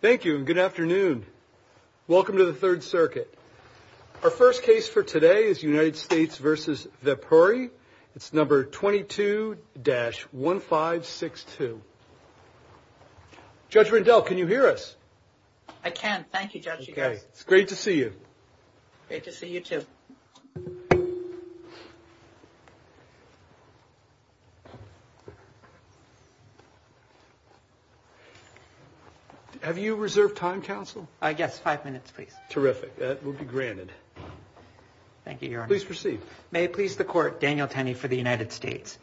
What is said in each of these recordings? Thank you and good afternoon. Welcome to the Third Circuit. Our first case for today is United States v. Vepuri. It's number 22-1562. Judge Rindell, can you hear us? I can. Thank you, Judge. Okay. It's great to see you. Great to see you, too. Have you reserved time, counsel? Yes, five minutes, please. Terrific. That will be granted. Thank you, Your Honor. Please proceed. May it please the Court, Daniel Tenney for the United States.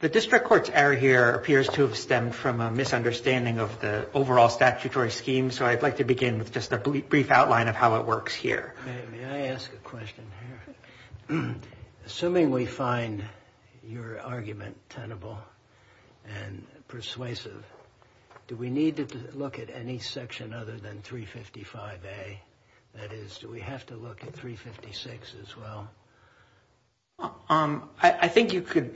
The District Court's error here appears to have stemmed from a misunderstanding of the overall statutory scheme, so I'd like to begin with just a brief outline of how it works here. May I ask a question here? Assuming we find your argument tenable and persuasive, do we need to look at any section other than 355A? That is, do we have to look at 356 as well? I think you could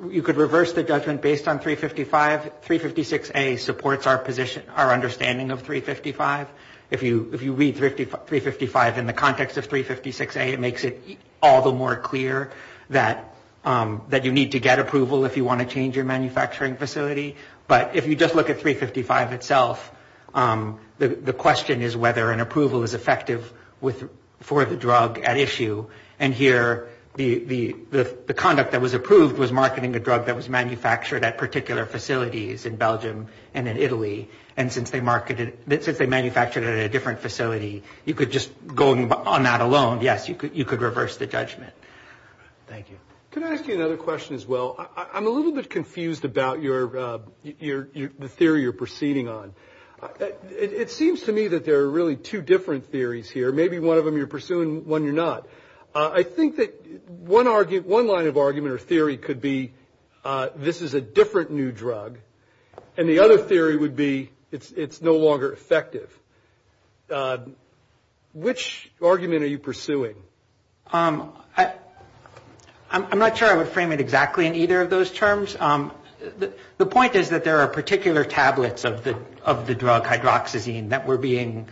reverse the judgment based on 355. 356A supports our position, our understanding of 355. If you read 355 in the context of 356A, it makes it all the more clear that you need to get approval if you want to change your manufacturing facility. But if you just look at 355 itself, the question is whether an approval is effective for the drug at issue. And here, the conduct that was approved was marketing a drug that was manufactured at particular facilities in Belgium and in Italy. And since they manufactured it at a different facility, you could just, going on that alone, yes, you could reverse the judgment. Thank you. Can I ask you another question as well? I'm a little bit confused about the theory you're proceeding on. It seems to me that there are really two different theories here. Maybe one of them you're pursuing, one you're not. I think that one line of argument or theory could be this is a different new drug, and the other theory would be it's no longer effective. Which argument are you pursuing? I'm not sure I would frame it exactly in either of those terms. The point is that there are particular tablets of the drug hydroxyzine that were being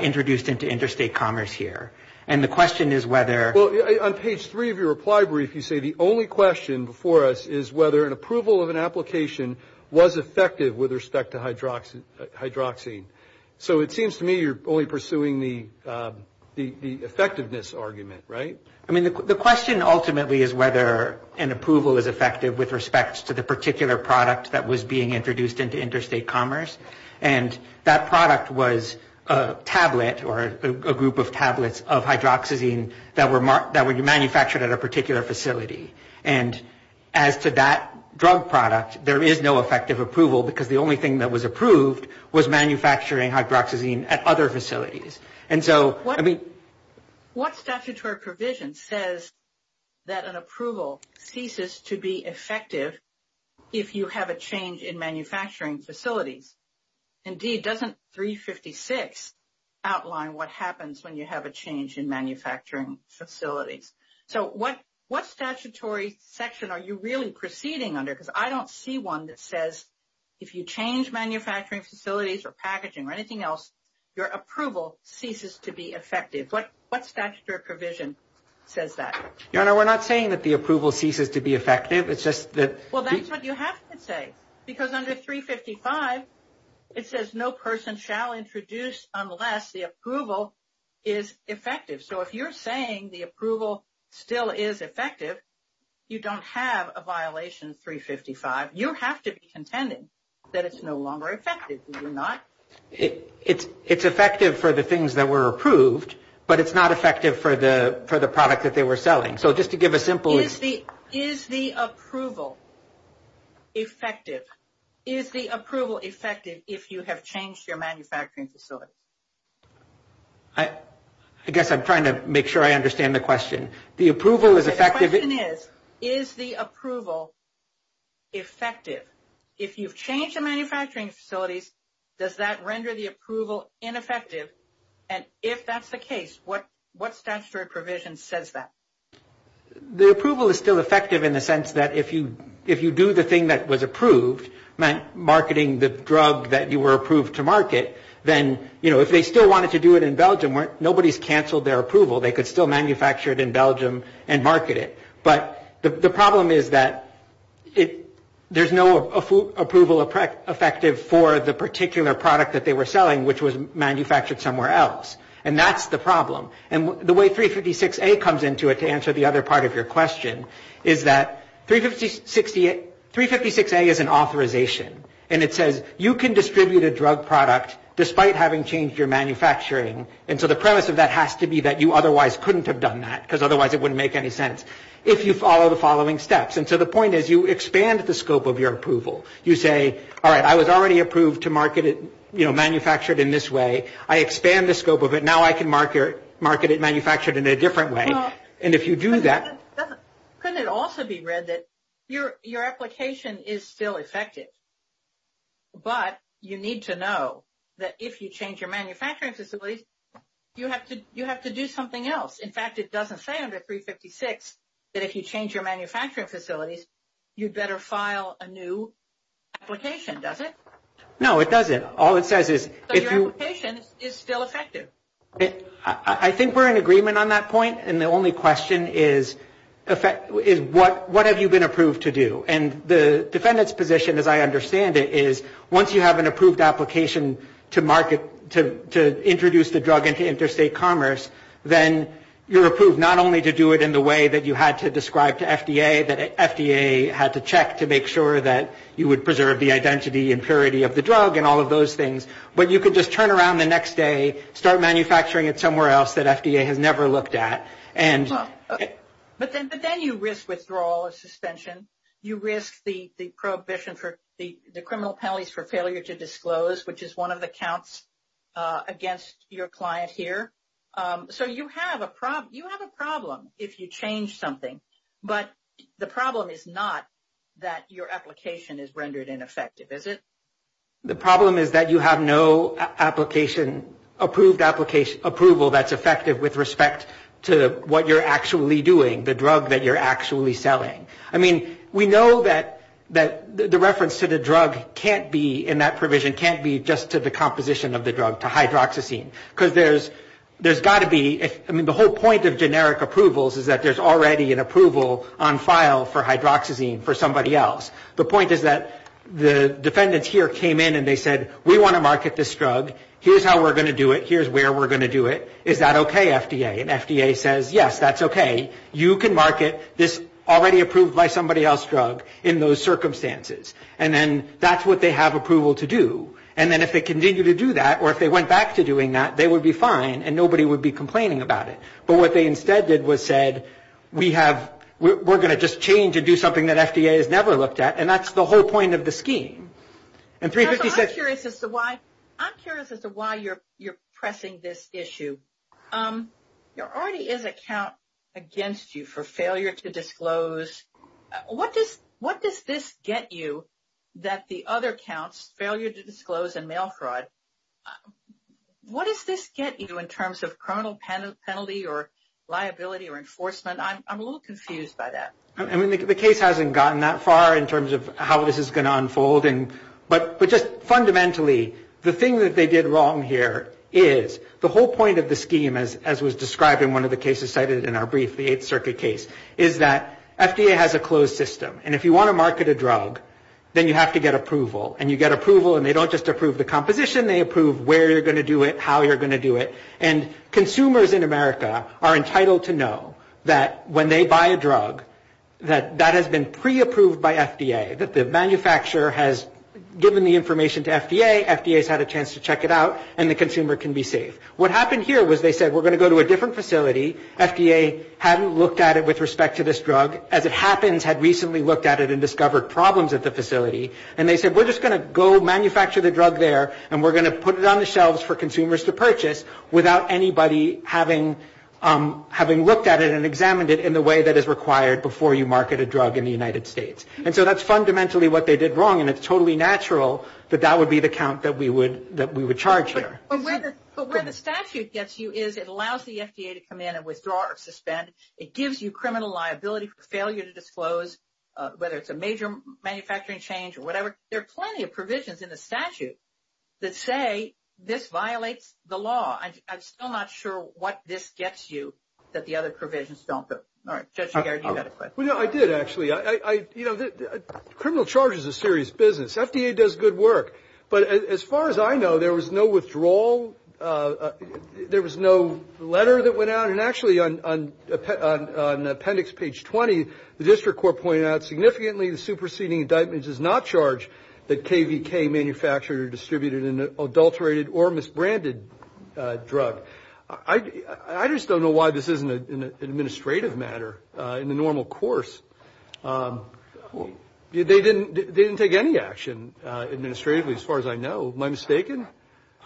introduced into interstate commerce here. And the question is whether... Well, on page three of your reply brief, you say the only question before us is whether an approval of an application was effective with respect to hydroxyzine. So it seems to me you're only pursuing the effectiveness argument, right? I mean, the question ultimately is whether an approval is effective with respect to the particular product that was being introduced into interstate commerce. And that product was a tablet or a group of tablets of hydroxyzine that were manufactured at a particular facility. And as to that drug product, there is no effective approval, because the only thing that was approved was manufactured at a particular facility. And so, I mean... What statutory provision says that an approval ceases to be effective if you have a change in manufacturing facilities? Indeed, doesn't 356 outline what happens when you have a change in manufacturing facilities? So what statutory section are you really proceeding under? Because I don't see one that says if you change manufacturing facilities or packaging or anything else, your approval ceases to be effective. What statutory provision says that? Your Honor, we're not saying that the approval ceases to be effective. It's just that... Well, that's what you have to say, because under 355, it says no person shall introduce unless the approval is effective. So if you're saying the approval still is effective, you don't have a violation 356. Under 355, you have to be contending that it's no longer effective, do you not? It's effective for the things that were approved, but it's not effective for the product that they were selling. So just to give a simple... Is the approval effective? Is the approval effective if you have changed your manufacturing facility? I guess I'm trying to make sure I understand the question. The approval is effective... If you've changed the manufacturing facilities, does that render the approval ineffective? And if that's the case, what statutory provision says that? The approval is still effective in the sense that if you do the thing that was approved, marketing the drug that you were approved to market, then if they still wanted to do it in Belgium, nobody's canceled their approval. They could still manufacture it in Belgium and market it. But the problem is that there's no approval effective for the particular product that they were selling, which was manufactured somewhere else. And that's the problem. And the way 356A comes into it, to answer the other part of your question, is that 356A is an authorization. And it says you can distribute a drug product despite having changed your manufacturing. And so the premise of that has to be that you otherwise couldn't have done that, because otherwise it wouldn't make any sense, if you follow the following steps. And so the point is you expand the scope of your approval. You say, all right, I was already approved to market it, you know, manufactured in this way. I expand the scope of it. Now I can market it manufactured in a different way. And if you do that... Couldn't it also be read that your application is still effective, but you need to know that if you change your manufacturing facilities, you have to do something else. In fact, it doesn't say under 356 that if you change your manufacturing facilities, you'd better file a new application, does it? No, it doesn't. All it says is... So your application is still effective. I think we're in agreement on that point. And the only question is what have you been approved to do? And the defendant's position, as I understand it, is once you have an approved application to market, to introduce the drug into interstate commerce, then you're approved not only to do it in the way that you had to describe to FDA, that FDA had to check to make sure that you would preserve the identity and purity of the drug and all of those things, but you could just turn around the next day, start manufacturing it somewhere else that FDA has never looked at. But then you risk withdrawal or suspension. You risk the criminal penalties for failure to disclose, which is one of the counts against your client here. So you have a problem if you change something. But the problem is not that your application is rendered ineffective, is it? The problem is that you have no approved approval that's effective with respect to what you're actually doing, the drug that you're actually selling. I mean, we know that the reference to the drug can't be in that provision, can't be just to the composition of the drug, to hydroxyzine. Because there's got to be, I mean, the whole point of generic approvals is that there's already an approval on file for hydroxyzine for somebody else. The point is that the defendants here came in and they said, we want to market this drug. Here's how we're going to do it. Here's where we're going to do it. Is that okay, FDA? And FDA says, yes, that's okay. You can market this already approved by somebody else drug in those circumstances. And then that's what they have approval to do. And then if they continue to do that, or if they went back to doing that, they would be fine and nobody would be complaining about it. But what they instead did was said, we have, we're going to just change and do something that FDA has never looked at. And that's the whole point of the scheme. I'm curious as to why you're pressing this issue. There already is a count against you for failure to disclose. What does this get you that the other counts, failure to disclose and mail fraud, what does this get you in terms of criminal penalty or liability or enforcement? I'm a little confused by that. I mean, the case hasn't gotten that far in terms of how this is going to unfold. But just fundamentally, the thing that they did wrong here is, the whole point of the scheme, as was described in one of the cases cited in our brief, the Eighth Circuit case, is that FDA has a closed system. And if you want to market a drug, then you have to get approval. And you get approval, and they don't just approve the composition, they approve where you're going to do it, how you're going to do it. And consumers in America are entitled to know that when they buy a drug, that that has been pre-approved by FDA, that the manufacturer has given the information to FDA, FDA has had a chance to check it out, and the consumer can be safe. What happened here was they said, we're going to go to a different facility, FDA hadn't looked at it with respect to this drug. As it happens, had recently looked at it and discovered problems at the facility. And they said, we're just going to go manufacture the drug there, and we're going to put it on the shelves for consumers to purchase, without anybody having looked at it and examined it in the way that is required before you market a drug in the United States. And so that's fundamentally what they did wrong, and it's totally natural that that would be the count that we would charge here. But where the statute gets you is it allows the FDA to come in and withdraw or suspend. It gives you criminal liability for failure to disclose, whether it's a major manufacturing change or whatever. There are plenty of provisions in the statute that say this violates the law. I'm still not sure what this gets you that the other provisions don't. All right. Well, no, I did, actually. Criminal charge is a serious business. FDA does good work. But as far as I know, there was no withdrawal. There was no letter that went out. And actually, on appendix page 20, the district court pointed out, significantly the superseding indictment does not charge that KVK manufacturer distributed an adulterated or misbranded drug. I just don't know why this isn't an administrative matter in the normal course. They didn't take any action administratively, as far as I know. Am I mistaken?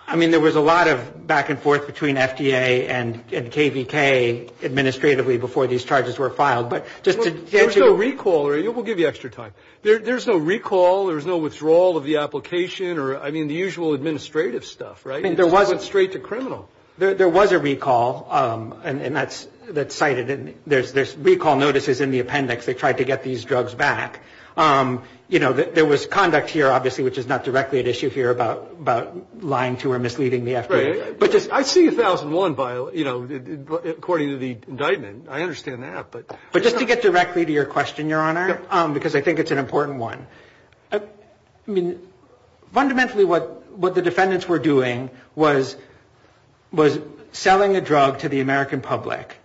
I mean, there was a lot of back and forth between FDA and KVK administratively before these charges were filed. There's no recall. We'll give you extra time. There's no recall. There's no withdrawal of the application or, I mean, the usual administrative stuff, right? It went straight to criminal. There was a recall, and that's cited. There's recall notices in the appendix. They tried to get these drugs back. You know, there was conduct here, obviously, which is not directly at issue here about lying to or misleading the FDA. I see 1001, you know, according to the indictment. I understand that. But just to get directly to your question, Your Honor, because I think it's an important one. Fundamentally, what the defendants were doing was selling a drug to the American public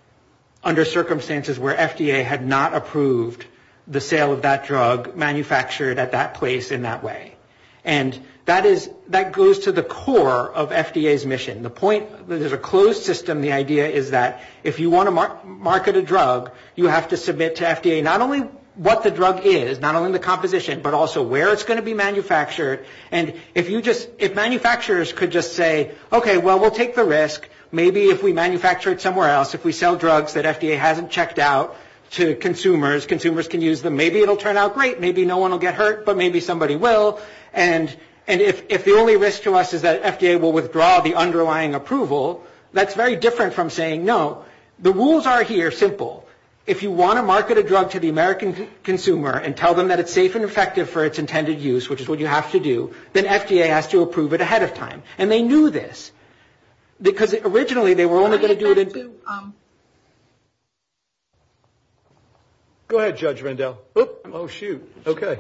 under circumstances where FDA had not approved the sale of that drug manufactured at that place in that way. And that is, that goes to the core of FDA's mission. The point, there's a closed system. The idea is that if you want to market a drug, you have to submit to FDA not only what the drug is, not only the composition, but also where it's going to be manufactured. And if you just, if manufacturers could just say, okay, well, we'll take the risk. Maybe if we manufacture it somewhere else, if we sell drugs that FDA hasn't checked out to consumers, consumers can use them. Maybe it'll turn out great. Maybe no one will get hurt, but maybe somebody will. And if the only risk to us is that FDA will withdraw the underlying approval, that's very different from saying no. The rules are here, simple. If you want to market a drug to the American consumer and tell them that it's safe and effective for its intended use, which is what you have to do, then FDA has to approve it ahead of time. And they knew this. Because originally, they were only going to do it in. Go ahead, Judge Rendell. Oh, shoot. Okay.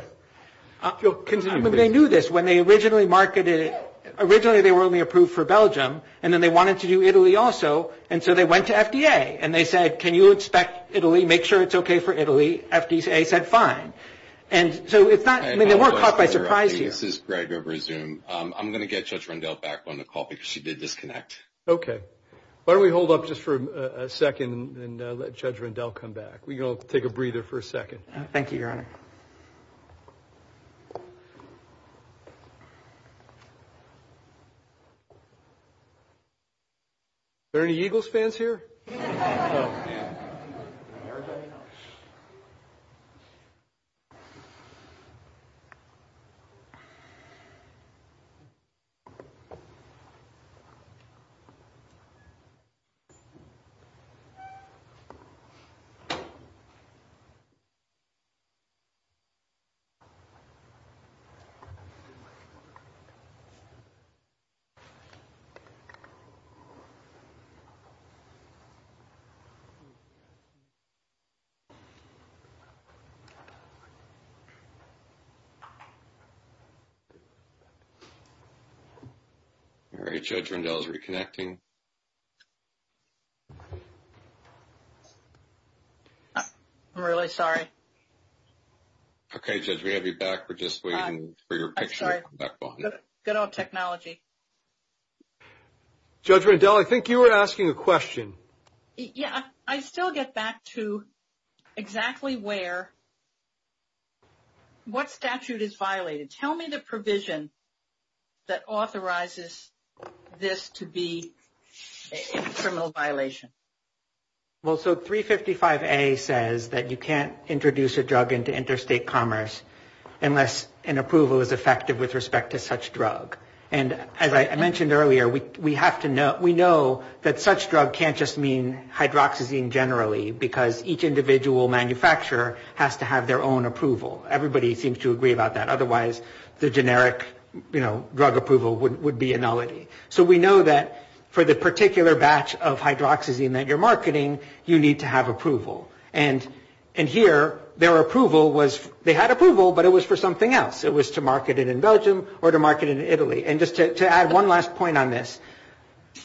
When they knew this, when they originally marketed it, originally they were only approved for Belgium, and then they wanted to do Italy also, and so they went to FDA. And they said, can you inspect Italy, make sure it's okay for Italy. FDA said fine. And so they weren't caught by surprise here. This is Greg over Zoom. I'm going to get Judge Rendell back on the call because she did disconnect. Okay. Why don't we hold up just for a second and let Judge Rendell come back. We can all take a breather for a second. Thank you, Your Honor. Are there any Eagles fans here? Oh, man. All right. Judge Rendell is reconnecting. I'm really sorry. Okay, Judge, we have you back. We're just waiting for your picture. Good old technology. Judge Rendell, I think you were asking a question. Yeah, I still get back to exactly where, what statute is violated. Tell me the provision that authorizes this to be a criminal violation. Well, so 355A says that you can't introduce a drug into interstate commerce unless an approval is effective with respect to such drug. And as I mentioned earlier, we know that such drug can't just mean hydroxyzine generally because each individual manufacturer has to have their own approval. Everybody seems to agree about that. Otherwise, the generic drug approval would be a nullity. So we know that for the particular batch of hydroxyzine that you're marketing, you need to have approval. And here, their approval was, they had approval, but it was for something else. It was to market it in Belgium or to market it in Italy. And just to add one last point on this.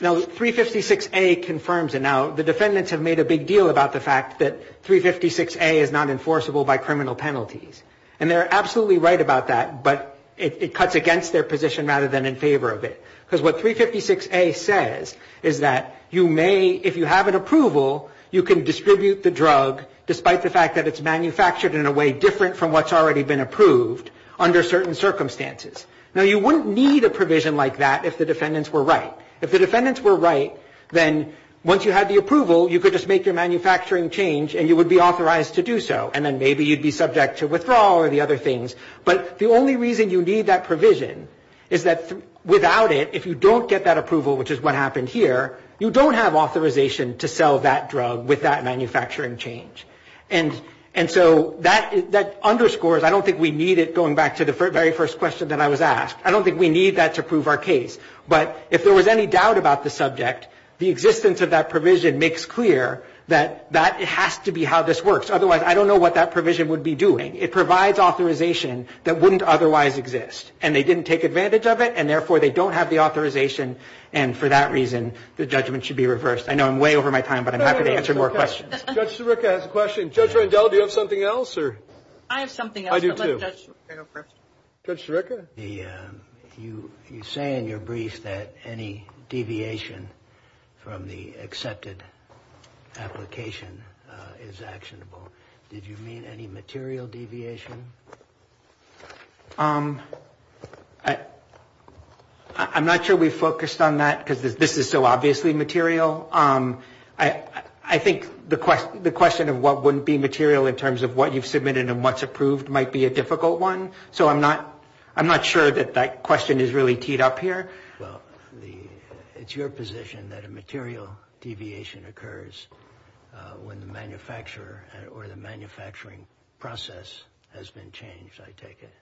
Now, 356A confirms it. Now, the defendants have made a big deal about the fact that 356A is not enforceable by criminal penalties. And they're absolutely right about that, but it cuts against their position rather than in favor of it. Because what 356A says is that you may, if you have an approval, you can distribute the drug, despite the fact that it's manufactured in a way different from what's already been approved under certain circumstances. Now, you wouldn't need a provision like that if the defendants were right. If the defendants were right, then once you had the approval, you could just make your manufacturing change and you would be authorized to do so. And then maybe you'd be subject to withdrawal or the other things. But the only reason you need that provision is that without it, if you don't get that approval, which is what happened here, you don't have authorization to sell that drug with that manufacturing change. And so that underscores, I don't think we need it, going back to the very first question that I was asked. I don't think we need that to prove our case. But if there was any doubt about the subject, the existence of that provision makes clear that it has to be how this works. Otherwise, I don't know what that provision would be doing. It provides authorization that wouldn't otherwise exist. And they didn't take advantage of it, and therefore they don't have the authorization. And for that reason, the judgment should be reversed. I know I'm way over my time, but I'm happy to answer more questions. Judge Sirica has a question. Judge Rendell, do you have something else? I have something else. I do, too. Let Judge Sirica go first. Judge Sirica? You say in your brief that any deviation from the accepted application is actionable. Did you mean any material deviation? I'm not sure we focused on that, because this is so obviously material. I think the question of what wouldn't be material in terms of what you've submitted and what's approved might be a difficult one. So I'm not sure that that question is really teed up here. Well, it's your position that a material deviation occurs when the manufacturer or the manufacturing process has failed. That has been changed, I take it.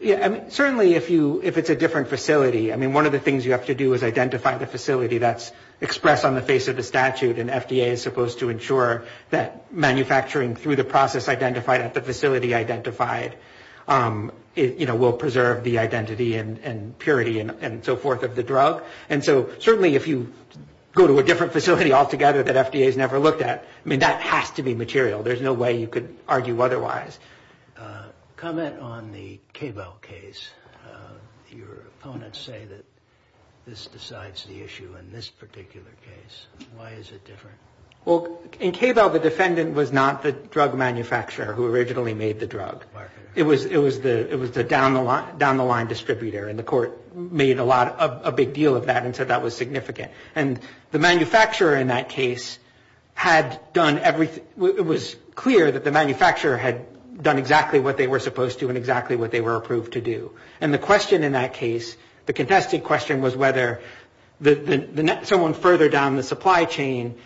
Yeah, I mean, certainly if it's a different facility. I mean, one of the things you have to do is identify the facility that's expressed on the face of the statute. And FDA is supposed to ensure that manufacturing through the process identified at the facility identified, you know, will preserve the identity and purity and so forth of the drug. And so certainly if you go to a different facility altogether that FDA has never looked at, I mean, that has to be material. There's no way you could argue otherwise. A comment on the Cabell case. Your opponents say that this decides the issue in this particular case. Why is it different? Well, in Cabell, the defendant was not the drug manufacturer who originally made the drug. It was the down-the-line distributor, and the court made a big deal of that and said that was significant. And the manufacturer in that case had done everything. It was clear that the manufacturer had done exactly what they were supposed to and exactly what they were approved to do. And the question in that case, the contested question was whether someone further down the supply chain,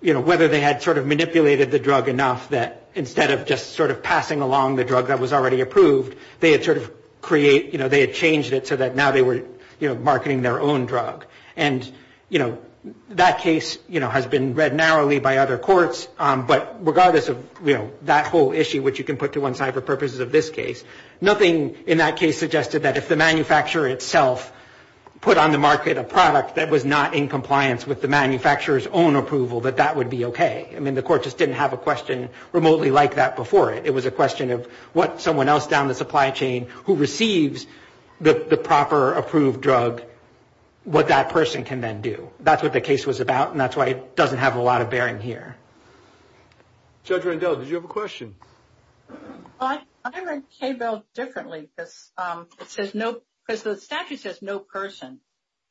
you know, whether they had sort of manipulated the drug enough that instead of just sort of passing along the drug that was already approved, they had sort of created, you know, they had changed it so that now they were, you know, marketing their own drug. And, you know, that case, you know, has been read narrowly by other courts. But regardless of, you know, that whole issue, which you can put to one side for purposes of this case, nothing in that case suggested that if the manufacturer itself put on the market a product that was not in compliance with the manufacturer's own approval, that that would be okay. I mean, the court just didn't have a question remotely like that before it. It was a question of what someone else down the supply chain who receives the proper approved drug, what that person can then do. That's what the case was about, and that's why it doesn't have a lot of bearing here. Judge Rendell, did you have a question? Well, I read KBEL differently because the statute says no person,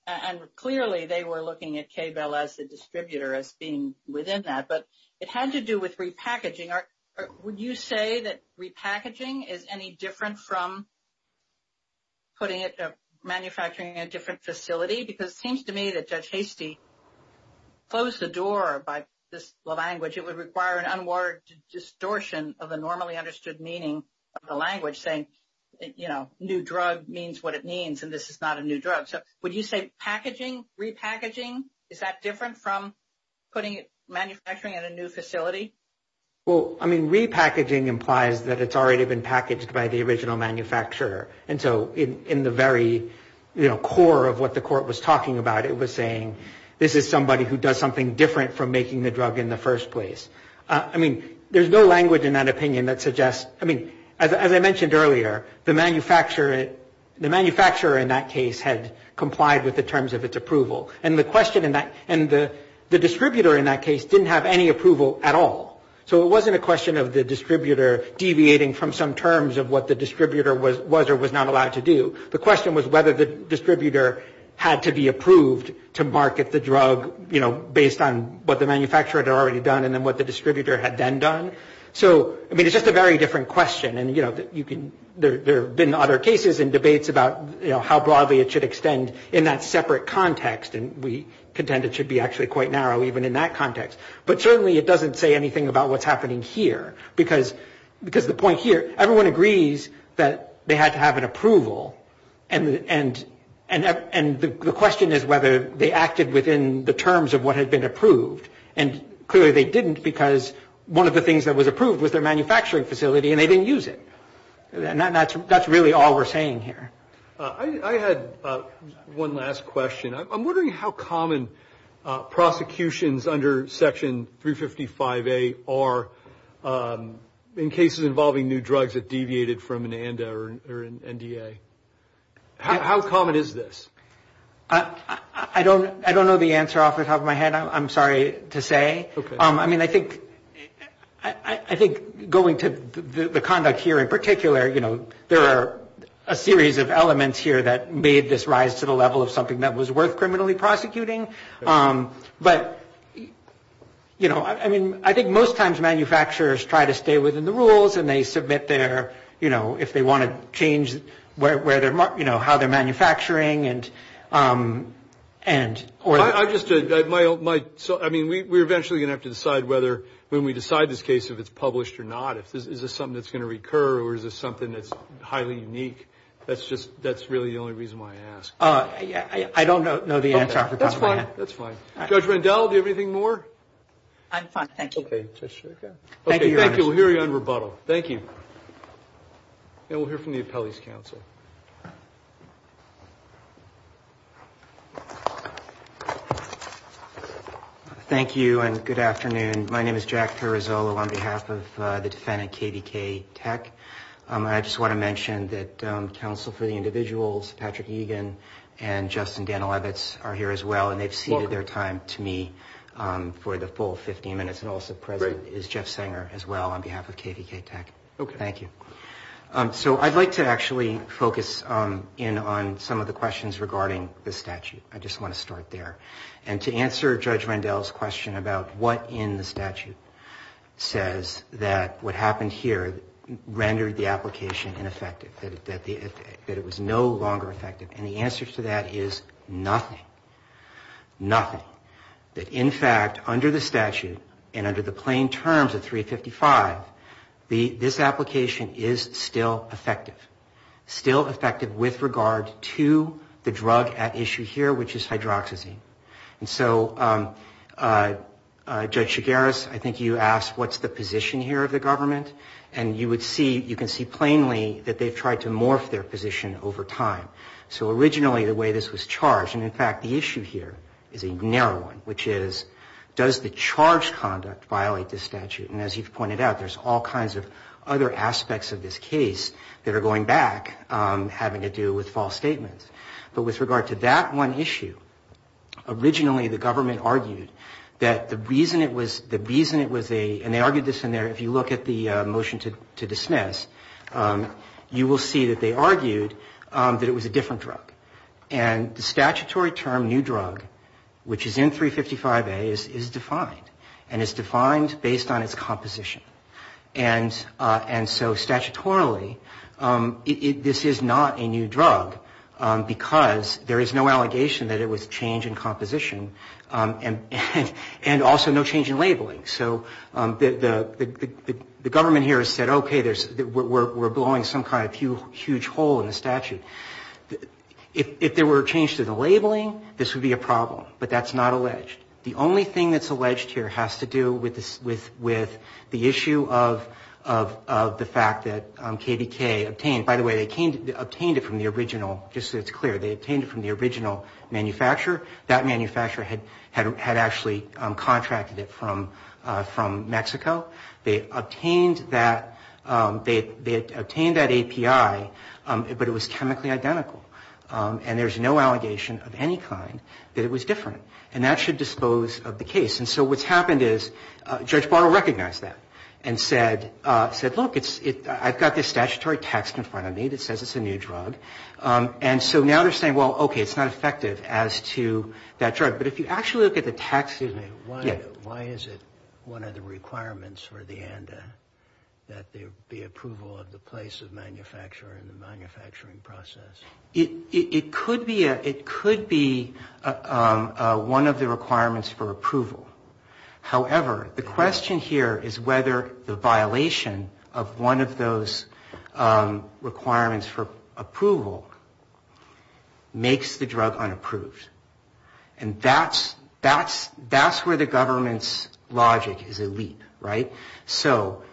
and clearly they were looking at KBEL as the distributor as being within that. But it had to do with repackaging. Would you say that repackaging is any different from putting it, manufacturing it in a different facility? Because it seems to me that Judge Hastie closed the door by this language. It would require an unwarranted distortion of the normally understood meaning of the language, saying, you know, new drug means what it means, and this is not a new drug. So would you say packaging, repackaging, is that different from putting it, manufacturing it in a new facility? Well, I mean, repackaging implies that it's already been packaged by the original manufacturer. And so in the very, you know, core of what the court was talking about, it was saying this is somebody who does something different from making the drug in the first place. I mean, there's no language in that opinion that suggests, I mean, as I mentioned earlier, the manufacturer in that case had complied with the terms of its approval. And the question in that, and the distributor in that case didn't have any approval at all. So it wasn't a question of the distributor deviating from some terms of what the distributor was or was not allowed to do. The question was whether the distributor had to be approved to market the drug, you know, based on what the manufacturer had already done and then what the distributor had then done. So, I mean, it's just a very different question. And, you know, there have been other cases and debates about, you know, how broadly it should extend in that separate context. And we contend it should be actually quite narrow even in that context. But certainly it doesn't say anything about what's happening here. Because the point here, everyone agrees that they had to have an approval. And the question is whether they acted within the terms of what had been approved. And clearly they didn't because one of the things that was approved was their manufacturing facility and they didn't use it. That's really all we're saying here. I had one last question. I'm wondering how common prosecutions under Section 355A are in cases involving new drugs that deviated from an ANDA or an NDA. How common is this? I don't know the answer off the top of my head, I'm sorry to say. I mean, I think going to the conduct here in particular, you know, there are a series of elements here that made this rise to the level of something that was worth criminally prosecuting. But, you know, I mean, I think most times manufacturers try to stay within the rules and they submit their, you know, if they want to change where they're, you know, how they're manufacturing. I mean, we're eventually going to have to decide whether when we decide this case if it's published or not. Is this something that's going to recur or is this something that's highly unique? That's really the only reason why I ask. I don't know the answer off the top of my head. That's fine. Judge Randall, do you have anything more? I'm fine. Thank you. Okay. Thank you. We'll hear you on rebuttal. Thank you. And we'll hear from the appellee's counsel. Thank you and good afternoon. My name is Jack Perizzolo on behalf of the defendant, KVK Tech. I just want to mention that counsel for the individuals, Patrick Egan and Justin Danilevitz, are here as well. And they've ceded their time to me for the full 15 minutes. And also present is Jeff Sanger as well on behalf of KVK Tech. Okay. Thank you. So I'd like to actually focus in on some of the questions regarding the statute. I just want to start there. And to answer Judge Randall's question about what in the statute says that what happened here rendered the application ineffective, that it was no longer effective. And the answer to that is nothing, nothing. In fact, under the statute and under the plain terms of 355, this application is still effective, still effective with regard to the drug at issue here, which is hydroxyzine. And so Judge Chigueras, I think you asked what's the position here of the government. And you would see, you can see plainly that they've tried to morph their position over time. So originally the way this was charged, and in fact the issue here is a narrow one, which is does the charge conduct violate this statute. And as you've pointed out, there's all kinds of other aspects of this case that are going back having to do with false statements. But with regard to that one issue, originally the government argued that the reason it was a, and they argued this in their, if you look at the motion to dismiss, you will see that they argued that it was a different drug. And the statutory term new drug, which is in 355A, is defined. And it's defined based on its composition. And so statutorily, this is not a new drug, because there is no allegation that it was changed in composition, and also no change in labeling. So the government here has said, okay, we're blowing some kind of huge hole in the statute. If there were a change to the labeling, this would be a problem. But that's not alleged. The only thing that's alleged here has to do with the issue of the fact that KDK obtained, by the way, they obtained it from the original, just so it's clear, they obtained it from the original manufacturer. That manufacturer had actually contracted it from Mexico. They obtained that, they obtained that API, but it was chemically identical. And there's no allegation of any kind that it was different. And that should dispose of the case. And so what's happened is Judge Bartle recognized that and said, look, I've got this statutory text in front of me that says it's a new drug. And so now they're saying, well, okay, it's not effective as to that drug. But if you actually look at the text... Excuse me. Yeah. Why is it one of the requirements for the ANDA that there be approval of the place of manufacture and the manufacturing process? It could be one of the requirements for approval. However, the question here is whether the violation of one of those requirements for approval makes the drug unapproved. And that's where the government's logic is a leap, right? So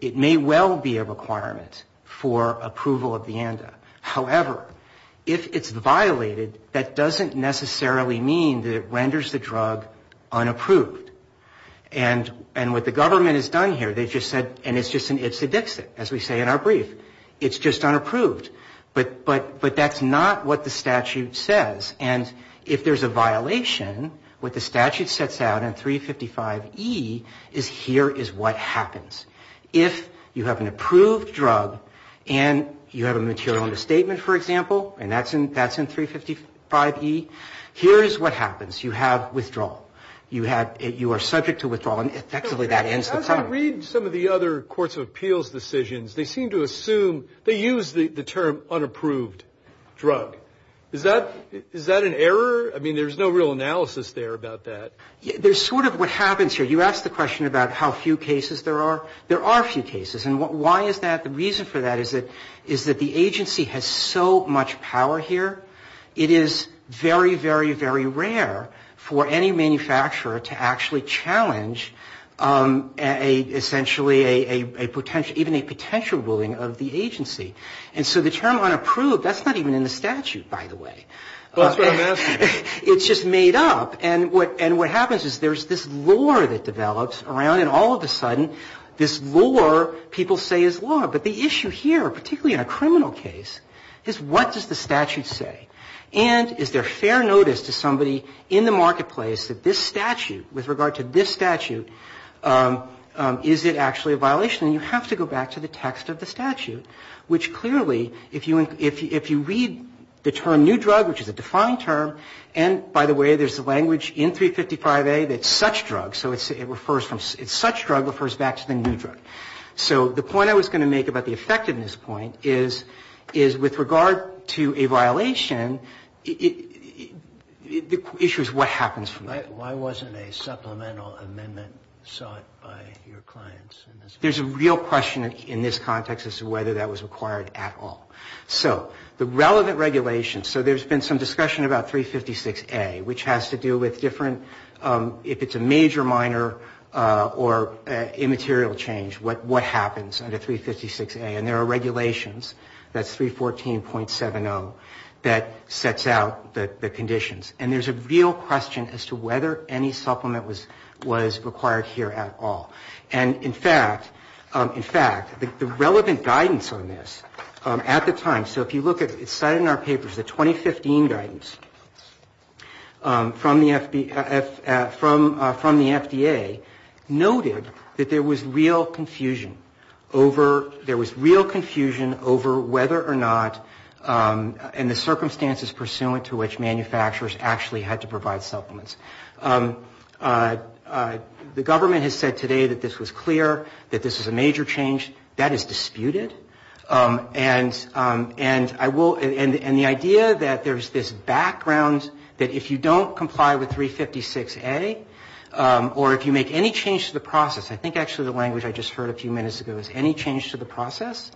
it may well be a requirement for approval of the ANDA. However, if it's violated, that doesn't necessarily mean that it renders the drug unapproved. And what the government has done here, they've just said, and it's just an it's a dixit, as we say in our brief. It's just unapproved. But that's not what the statute says. And if there's a violation, what the statute sets out in 355E is here is what happens. If you have an approved drug and you have a material understatement, for example, and that's in 355E, here's what happens. You have withdrawal. You are subject to withdrawal, and effectively that ends the problem. As I read some of the other courts of appeals decisions, they seem to assume they use the term unapproved drug. Is that an error? I mean, there's no real analysis there about that. There's sort of what happens here. You asked the question about how few cases there are. There are a few cases. And why is that? The reason for that is that the agency has so much power here, it is very, very, very rare for any manufacturer to actually challenge essentially even a potential ruling of the agency. And so the term unapproved, that's not even in the statute, by the way. It's just made up. And what happens is there's this lore that develops around it. All of a sudden, this lore people say is lore. But the issue here, particularly in a criminal case, is what does the statute say? And is there fair notice to somebody in the marketplace that this statute, with regard to this statute, is it actually a violation? And you have to go back to the text of the statute, which clearly, if you read the term new drug, which is a defined term, and by the way, there's a language in 355A that's such drug. So it's such drug refers back to the new drug. So the point I was going to make about the effectiveness point is with regard to a violation, the issue is what happens. Why wasn't a supplemental amendment sought by your clients? There's a real question in this context as to whether that was required at all. So the relevant regulations, so there's been some discussion about 356A, which has to do with different, if it's a major, minor, or immaterial change, what happens under 356A. And there are regulations, that's 314.70, that sets out the conditions. And there's a real question as to whether any supplement was required here at all. And in fact, in fact, the relevant guidance on this at the time, so if you look at it, it's cited in our papers, the 2015 guidance from the FDA noted that there was real confusion over, there was real confusion over whether or not, in the circumstances pursuant to which manufacturers actually had to provide supplements. The government has said today that this was clear, that this was a major change. That is disputed. And I will, and the idea that there's this background that if you don't comply with 356A, or if you make any change to the process, I think actually the language I just heard a few minutes ago is any change to the process,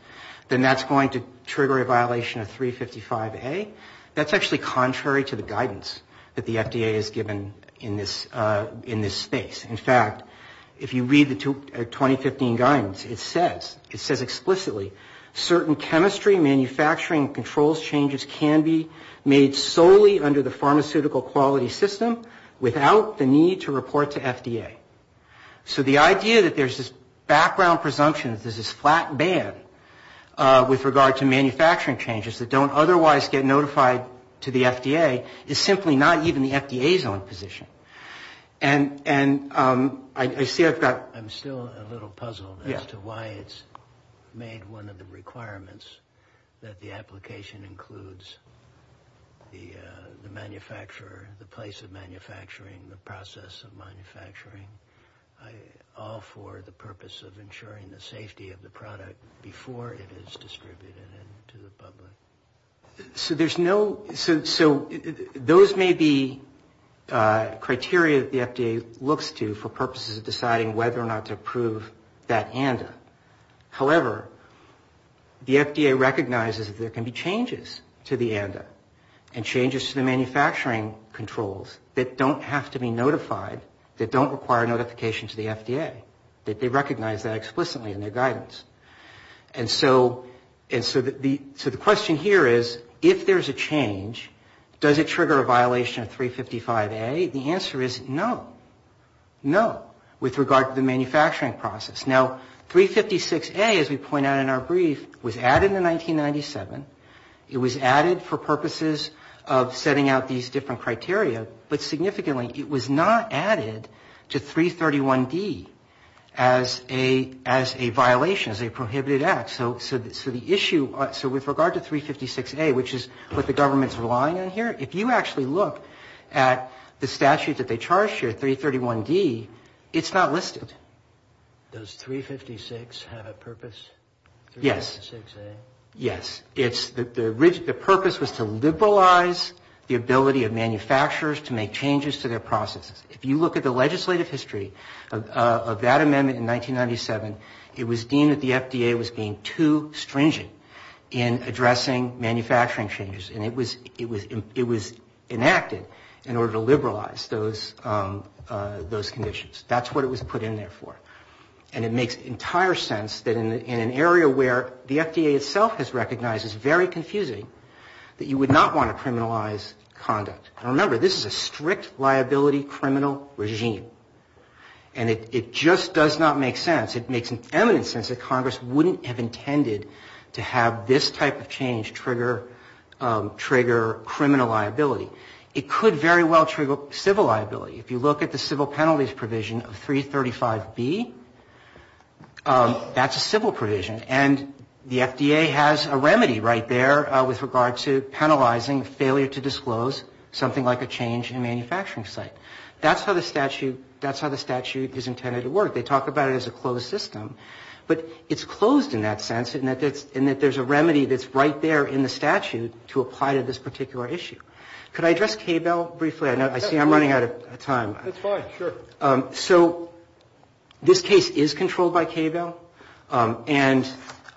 then that's going to trigger a violation of 355A. In this, in this space. In fact, if you read the 2015 guidance, it says, it says explicitly, certain chemistry manufacturing controls changes can be made solely under the pharmaceutical quality system without the need to report to FDA. So the idea that there's this background presumption, there's this flat ban with regard to manufacturing changes that don't otherwise get notified to the FDA, is simply not even the FDA's own position. And I see I've got... I'm still a little puzzled as to why it's made one of the requirements that the application includes the manufacturer, the place of manufacturing, the process of manufacturing, all for the purpose of ensuring the safety of the product before it is approved. So there's no, so those may be criteria that the FDA looks to for purposes of deciding whether or not to approve that ANDA. However, the FDA recognizes that there can be changes to the ANDA and changes to the manufacturing controls that don't have to be notified, that don't require notification to the FDA, that they recognize that explicitly in their guidance. And so the question here is, if there's a change, does it trigger a violation of 355A? The answer is no, no, with regard to the manufacturing process. Now, 356A, as we point out in our brief, was added in 1997. It was added for purposes of setting out these different criteria, but significantly, it was not added to 331D as a violation, as a prohibited act. So the issue, so with regard to 356A, which is what the government's relying on here, if you actually look at the statute that they charged here, 331D, it's not listed. Does 356 have a purpose? Yes. The purpose was to liberalize the ability of manufacturers to make changes to their processes. If you look at the legislative history of that amendment in 1997, it was deemed that the FDA was being too stringent in addressing manufacturing changes, and it was enacted in order to liberalize those conditions. That's what it was put in there for. But the FDA itself has recognized it's very confusing that you would not want to criminalize conduct. And remember, this is a strict liability criminal regime. And it just does not make sense. It makes eminent sense that Congress wouldn't have intended to have this type of change trigger criminal liability. It could very well trigger civil liability. If you look at the civil penalties provision of 335B, that's a civil provision. And the FDA has a remedy right there with regard to penalizing failure to disclose something like a change in a manufacturing site. That's how the statute is intended to work. They talk about it as a closed system. But it's closed in that sense, in that there's a remedy that's right there in the statute to apply to this particular issue. Could I address KBEL briefly? I see I'm running out of time. So this case is controlled by KBEL. And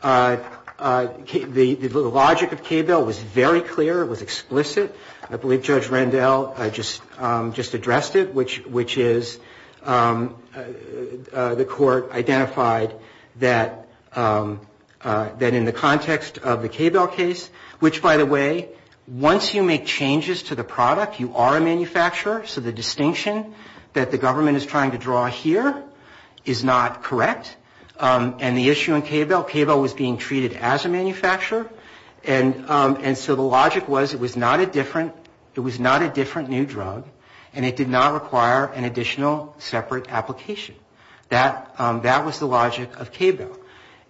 the logic of KBEL was very clear. It was explicit. I believe Judge Rendell just addressed it, which is the Court identified that in the context of the KBEL case, which, by the way, once you make changes to the product, you are a manufacturer. So the distinction that the government is trying to draw here is not correct. And the issue in KBEL, KBEL was being treated as a manufacturer. And so the logic was it was not a different new drug. And it did not require an additional separate application. That was the logic of KBEL.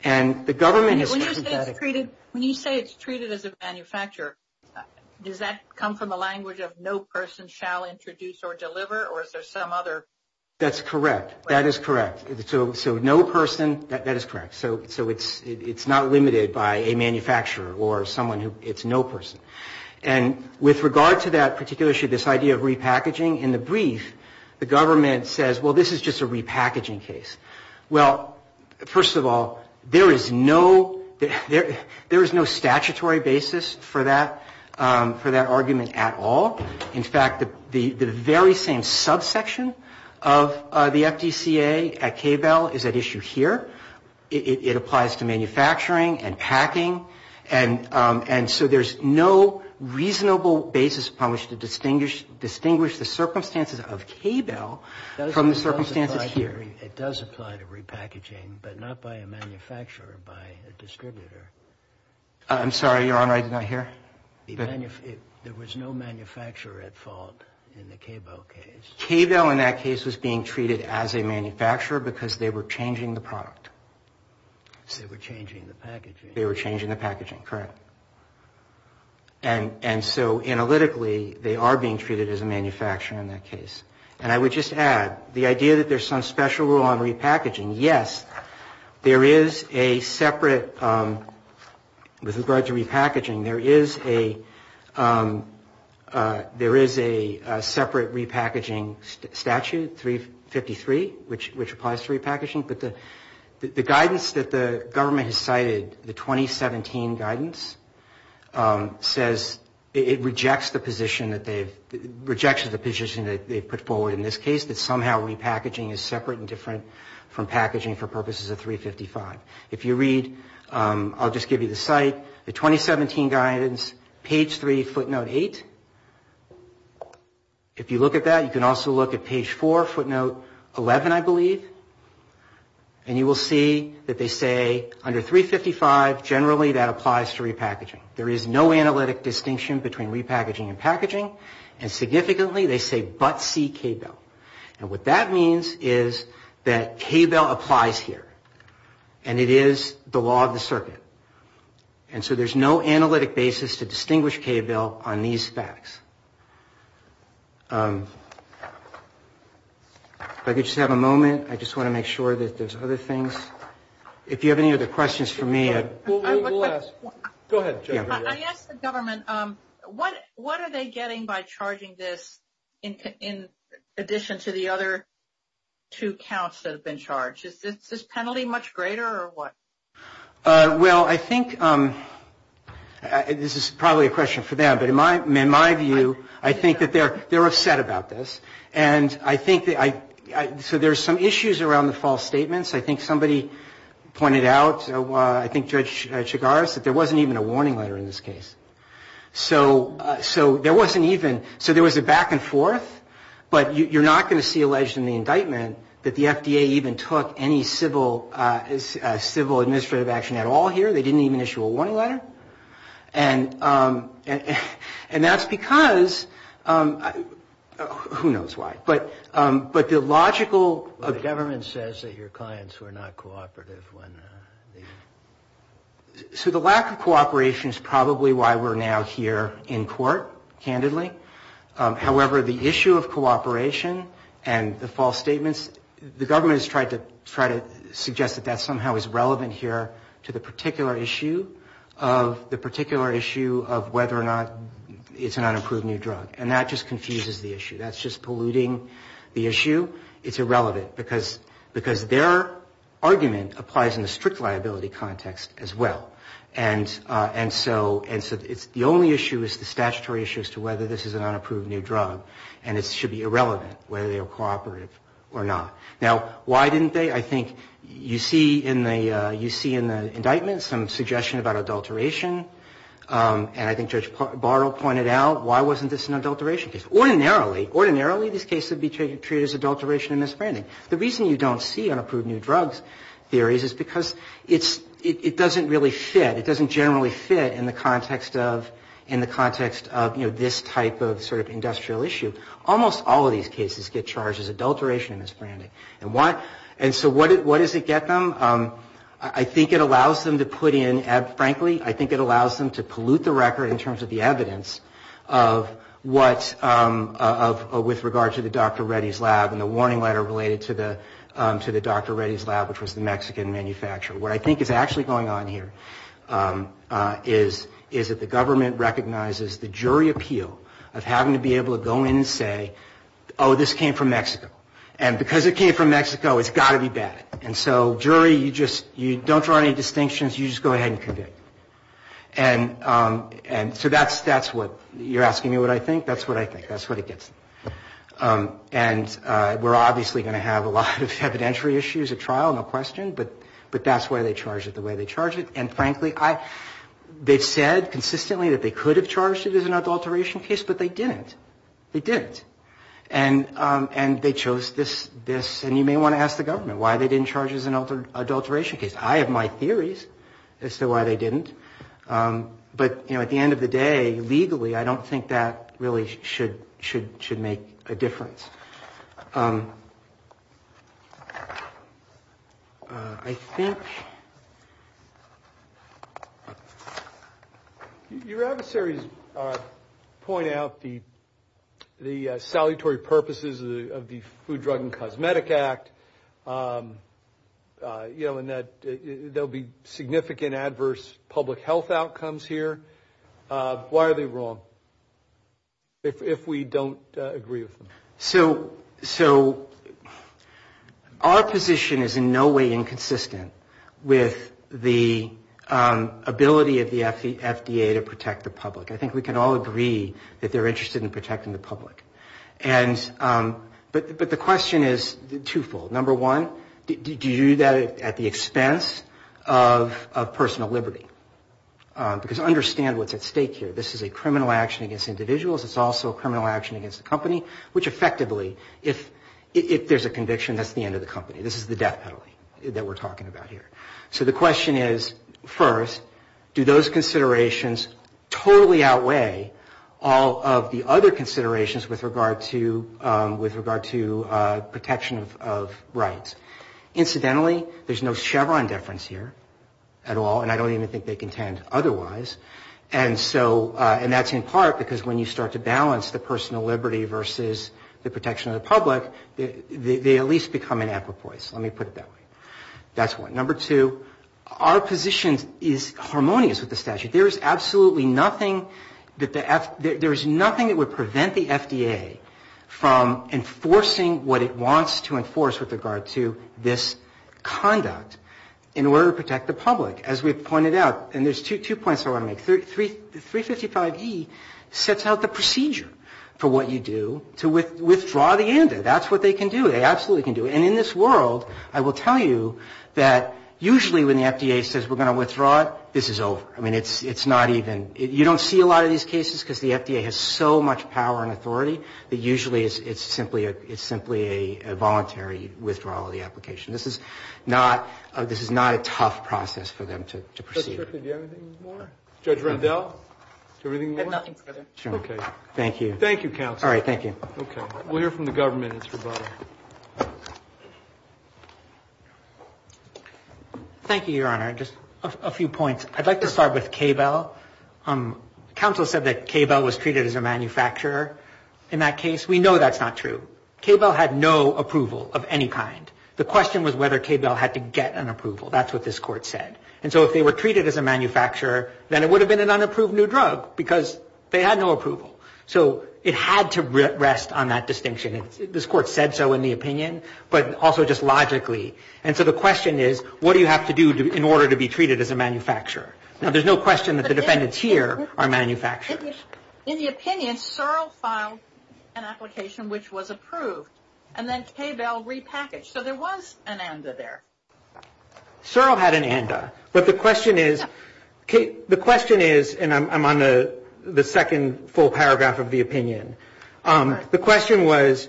And the government is trying to do that again. When you say it's treated as a manufacturer, does that come from the language of no person shall introduce or deliver, or is there some other? That's correct. That is correct. So no person, that is correct. So it's not limited by a manufacturer or someone who, it's no person. And with regard to that particular issue, this idea of repackaging, in the brief, the government says, well, this is just a repackaging case. Well, first of all, there is no statutory basis for that argument at all. In fact, the very same subsection of the FDCA at KBEL is at issue here. It applies to manufacturing and packing. And so there's no reasonable basis upon which to distinguish the circumstances of KBEL from the circumstances here. It does apply to repackaging, but not by a manufacturer, by a distributor. I'm sorry, Your Honor, I did not hear. There was no manufacturer at fault in the KBEL case. KBEL in that case was being treated as a manufacturer because they were changing the product. They were changing the packaging. They were changing the packaging, correct. And so analytically, they are being treated as a manufacturer in that case. And I would just add, the idea that there's some special rule on repackaging, yes, there is a separate, with regard to repackaging, there is a separate repackaging statute, 353, which applies to repackaging. But the guidance that the government has cited, the 2017 guidance, says it rejects the position that they've put forward in this case, that somehow repackaging is separate and different from packaging for purposes of 355. If you read, I'll just give you the site, the 2017 guidance, page 3, footnote 8. If you look at that, you can also look at page 4, footnote 11, I believe. And you will see that they say, under 355, generally, that applies to repackaging. There is no analytic distinction between repackaging and packaging. And significantly, they say, but see KBEL. And what that means is that KBEL applies here. And it is the law of the circuit. And so there's no analytic basis to distinguish KBEL on these facts. If I could just have a moment. I just want to make sure that there's other things. If you have any other questions for me. Go ahead. I asked the government, what are they getting by charging this in addition to the other two counts that have been charged? Is this penalty much greater or what? Well, I think this is probably a question for them. But in my view, I think that they're upset about this. And I think, so there's some issues around the false statements. I think somebody pointed out, I think Judge Chigaris, that there wasn't even a warning letter in this case. So there wasn't even, so there was a back and forth. But you're not going to see alleged in the indictment that the FDA even took any civil administrative action at all here. They didn't even issue a warning letter. And that's because, who knows why, but the logical... The government says that your clients were not cooperative when they... So the lack of cooperation is probably why we're now here in court, candidly. However, the issue of cooperation and the false statements, the government has tried to suggest that that somehow is relevant here to the particular issue of whether or not it's an unapproved new drug. And that just confuses the issue. That's just polluting the issue. It's irrelevant, because their argument applies in the strict liability context as well. And so the only issue is the statutory issue as to whether this is an unapproved new drug. And it should be irrelevant whether they were cooperative or not. Now, why didn't they? I think you see in the indictment some suggestion about adulteration. And I think Judge Bartle pointed out, why wasn't this an adulteration case? Ordinarily, this case would be treated as adulteration and misbranding. The reason you don't see unapproved new drugs theories is because it doesn't really fit. In the context of this type of sort of industrial issue, almost all of these cases get charged as adulteration and misbranding. And so what does it get them? I think it allows them to put in, frankly, I think it allows them to pollute the record in terms of the evidence of what, with regard to the Dr. Reddy's lab and the warning letter related to the Dr. Reddy's lab, which was the Mexican manufacturer, what I think is actually going on here is that the government recognizes the jury appeal of having to be able to go in and say, oh, this came from Mexico. And because it came from Mexico, it's got to be bad. And so jury, you just, you don't draw any distinctions, you just go ahead and convict. And so that's what, you're asking me what I think? That's what I think. That's what it gets them. And we're obviously going to have a lot of evidentiary issues at trial, no question, but that's why they charge it the way they charge it. And frankly, they've said consistently that they could have charged it as an adulteration case, but they didn't. They didn't. And they chose this, and you may want to ask the government why they didn't charge it as an adulteration case. I have my theories as to why they didn't. But at the end of the day, legally, I don't think that really should make a difference. I think... Your adversaries point out the salutary purposes of the Food, Drug and Cosmetic Act, you know, and that there will be significant adverse public health outcomes here. Why are they wrong, if we don't agree with them? So our position is in no way inconsistent with the ability of the FDA to protect the public. I think we can all agree that they're interested in protecting the public. But the question is twofold. Number one, do you do that at the expense of personal liberty? Because understand what's at stake here. This is a criminal action against individuals. It's also a criminal action against the company, which effectively, if there's a conviction, that's the end of the company. This is the death penalty that we're talking about here. So the question is, first, do those considerations totally outweigh all of the other considerations with regard to protection of rights? Incidentally, there's no Chevron deference here at all, and I don't even think they contend otherwise. And that's in part because when you start to balance the personal liberty versus the protection of the public, they at least become an apropos. Let me put it that way. That's one. Number two, our position is harmonious with the statute. There's nothing that would prevent the FDA from enforcing what it wants to enforce with regard to this conduct in order to protect the public. As we pointed out, and there's two points I want to make. 355E sets out the procedure for what you do to withdraw the ANDA. That's what they can do. They absolutely can do it. And in this world, I will tell you that usually when the FDA says we're going to withdraw it, this is over. I mean, it's not even you don't see a lot of these cases because the FDA has so much power and authority that usually it's simply a voluntary withdrawal of the application. This is not a tough process for them to proceed. Do you have anything more? Judge Rendell, do you have anything more? I have nothing further. Thank you, Your Honor. Just a few points. I'd like to start with KBEL. Counsel said that KBEL was treated as a manufacturer in that case. We know that's not true. KBEL had no approval of any kind. The question was whether KBEL had to get an approval. That's what this Court said. And so if they were treated as a manufacturer, then it would have been an unapproved new drug because they had no approval. So it had to rest on that distinction. This Court said so in the opinion, but also just logically. And so the question is, what do you have to do in order to be treated as a manufacturer? Now, there's no question that the defendants here are manufacturers. In the opinion, Searle filed an application which was approved, and then KBEL repackaged. So there was an ANDA there. Searle had an ANDA, but the question is, and I'm on the second full paragraph of the opinion. The question was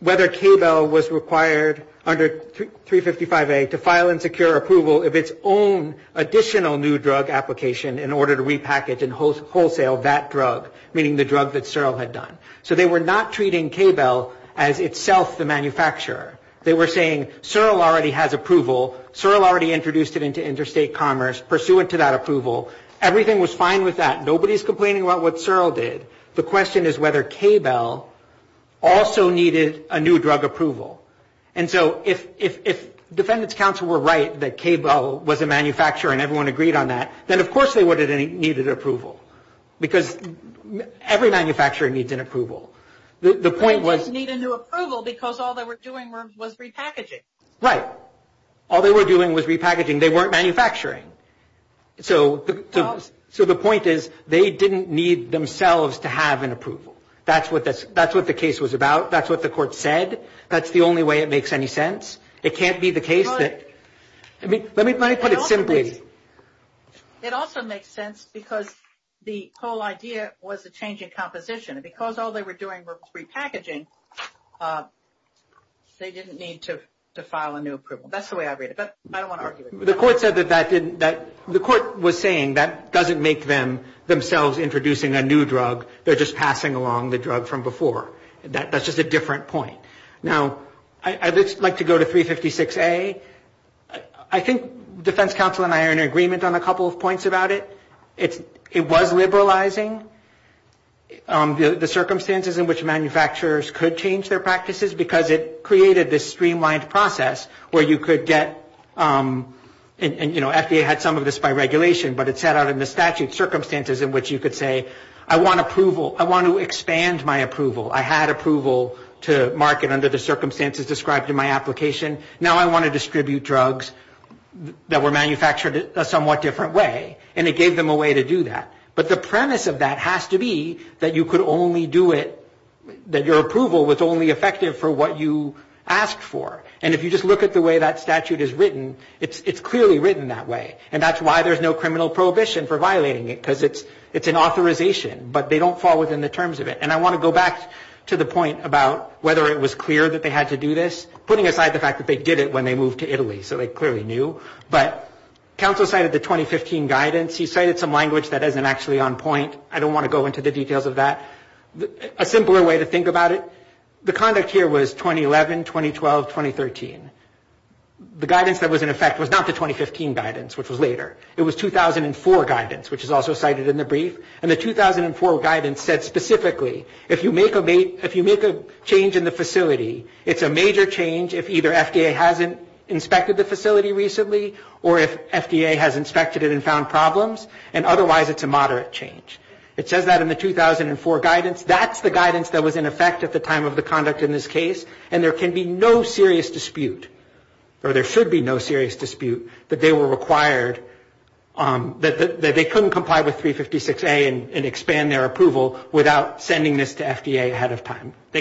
whether KBEL was required under 355A to file and secure approval of its own additional new drug application in order to repackage and wholesale that drug, meaning the drug that Searle had done. So they were not treating KBEL as itself the manufacturer. They were saying Searle already has approval. Searle already introduced it into interstate commerce pursuant to that approval. Everything was fine with that. Nobody's complaining about what Searle did. The question is whether KBEL also needed a new drug approval. And so if defendants' counsel were right that KBEL was a manufacturer and everyone agreed on that, then of course they would have needed approval, because every manufacturer needs an approval. The point was... They didn't need a new approval because all they were doing was repackaging. Right. All they were doing was repackaging. They weren't manufacturing. So the point is they didn't need themselves to have an approval. That's what the case was about. That's what the court said. That's the only way it makes any sense. It can't be the case that... It also makes sense because the whole idea was a change in composition. Because all they were doing was repackaging, they didn't need to file a new approval. That's the way I read it. The court was saying that doesn't make them themselves introducing a new drug. They're just passing along the drug from before. That's just a different point. Now, I'd like to go to 356A. I think defense counsel and I are in agreement on a couple of points about it. It was liberalizing the circumstances in which manufacturers could change their practices because it created this streamlined process where you could get... And FDA had some of this by regulation, but it set out in the statute circumstances in which you could say, I want approval. I want to expand my approval. I had approval to market under the circumstances described in my application. Now I want to distribute drugs that were manufactured a somewhat different way. And it gave them a way to do that. But the premise of that has to be that you could only do it... That your approval was only effective for what you asked for. And if you just look at the way that statute is written, it's clearly written that way. And that's why there's no criminal prohibition for violating it, because it's an authorization. But they don't fall within the terms of it. And I want to go back to the point about whether it was clear that they had to do this, putting aside the fact that they did it when they moved to Italy, so they clearly knew. But counsel cited the 2015 guidance. He cited some language that isn't actually on point. I don't want to go into the details of that. A simpler way to think about it, the conduct here was 2011, 2012, 2013. The guidance that was in effect was not the 2015 guidance, which was later. It was 2004 guidance, which is also cited in the brief. And the 2004 guidance said specifically, if you make a change in the facility, it's a major change if either FDA hasn't inspected the facility recently, or if FDA has inspected it and found problems. And otherwise, it's a moderate change. It says that in the 2004 guidance. That's the guidance that was in effect at the time of the conduct in this case. And there can be no serious dispute, or there should be no serious dispute, that they were required, that they couldn't comply with 356A and expand their approval without sending this to FDA ahead of time. I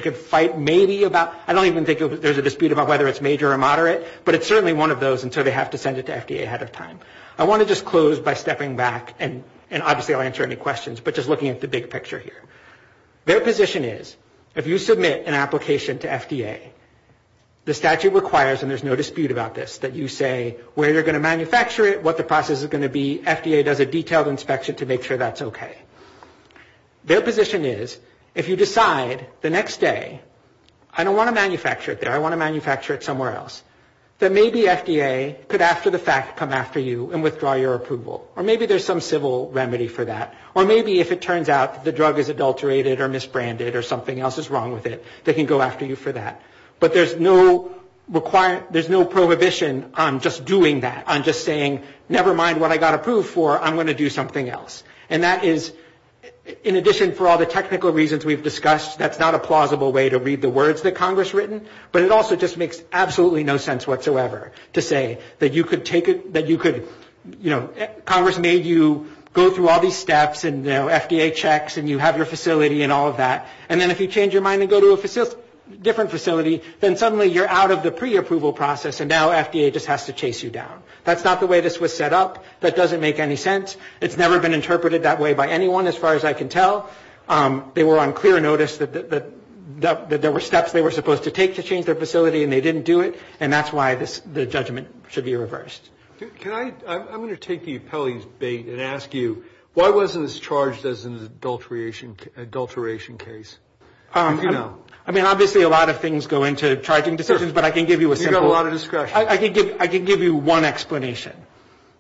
don't even think there's a dispute about whether it's major or moderate, but it's certainly one of those, and so they have to send it to FDA ahead of time. I want to just close by stepping back, and obviously I'll answer any questions, but just looking at the big picture here. Their position is, if you submit an application to FDA, the statute requires, and there's no dispute about this, that you say where you're going to manufacture it, what the process is going to be, FDA does a detailed inspection to make sure that's okay. Their position is, if you decide the next day, I don't want to manufacture it there, I want to manufacture it somewhere else, that maybe FDA could after the fact come after you and withdraw your approval. Or maybe there's some civil remedy for that. Or maybe if it turns out the drug is adulterated or misbranded or something else is wrong with it, they can go after you for that. But there's no prohibition on just doing that, on just saying, never mind what I got approved for, I'm going to do something else. And that is, in addition for all the technical reasons we've discussed, that's not a plausible way to read the words that Congress written, but it also just makes absolutely no sense whatsoever to say that you could take it, that you could, you know, Congress made you go through all these steps and, you know, FDA checks and you have your facility and all of that, and then if you change your mind and go to a different facility, then suddenly you're out of the pre-approval process and now FDA just has to chase you down. That's not the way this was set up. That doesn't make any sense. It's never been interpreted that way by anyone as far as I can tell. They were on clear notice that there were steps they were supposed to take to change their facility and they didn't do it, and that's why the judgment should be reversed. Can I, I'm going to take the appellee's bait and ask you, why wasn't this charged as an adulteration case? I mean, obviously a lot of things go into charging decisions, but I can give you a simple I can give you one explanation.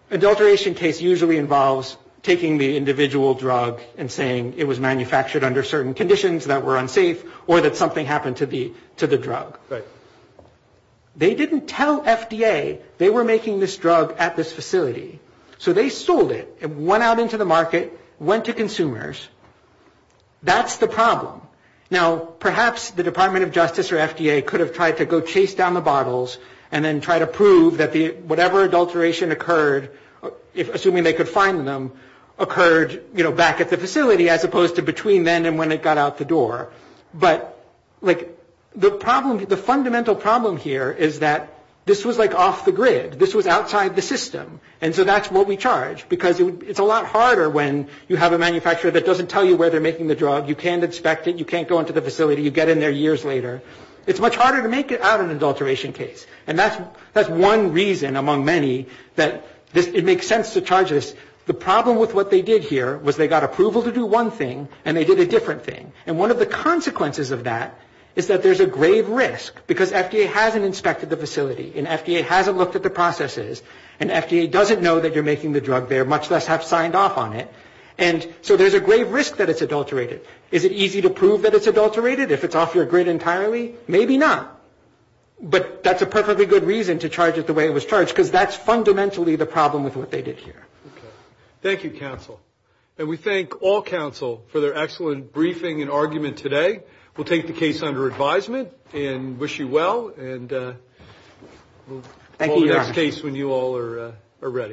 Adulteration case usually involves taking the individual drug and saying it was manufactured under certain conditions that were unsafe or that something happened to the drug. They didn't tell FDA they were making this drug at this facility, so they sold it. It went out into the market, went to consumers. That's the problem. Now, perhaps the Department of Justice or FDA could have tried to go chase down the bottles and then try to prove that whatever adulteration occurred, assuming they could find them, occurred, you know, back at the facility as opposed to between then and when it got out the door. But, like, the problem, the fundamental problem here is that this was like off the grid. This was outside the system, and so that's what we charge. Because it's a lot harder when you have a manufacturer that doesn't tell you where they're making the drug. You can't inspect it. You can't go into the facility. You get in there years later. It's much harder to make out an adulteration case, and that's one reason among many that it makes sense to charge this. The problem with what they did here was they got approval to do one thing, and they did a different thing. And one of the consequences of that is that there's a grave risk, because FDA hasn't inspected the facility, and FDA hasn't looked at the processes, and FDA doesn't know that you're making the drug there, much less have signed off on it. And so there's a grave risk that it's adulterated. Is it easy to prove that it's adulterated if it's off your grid entirely? Maybe not. But that's a perfectly good reason to charge it the way it was charged, because that's fundamentally the problem with what they did here. Okay. Thank you, counsel. And we thank all counsel for their excellent briefing and argument today. We'll take the case under advisement and wish you well, and we'll call the next case when you all are ready.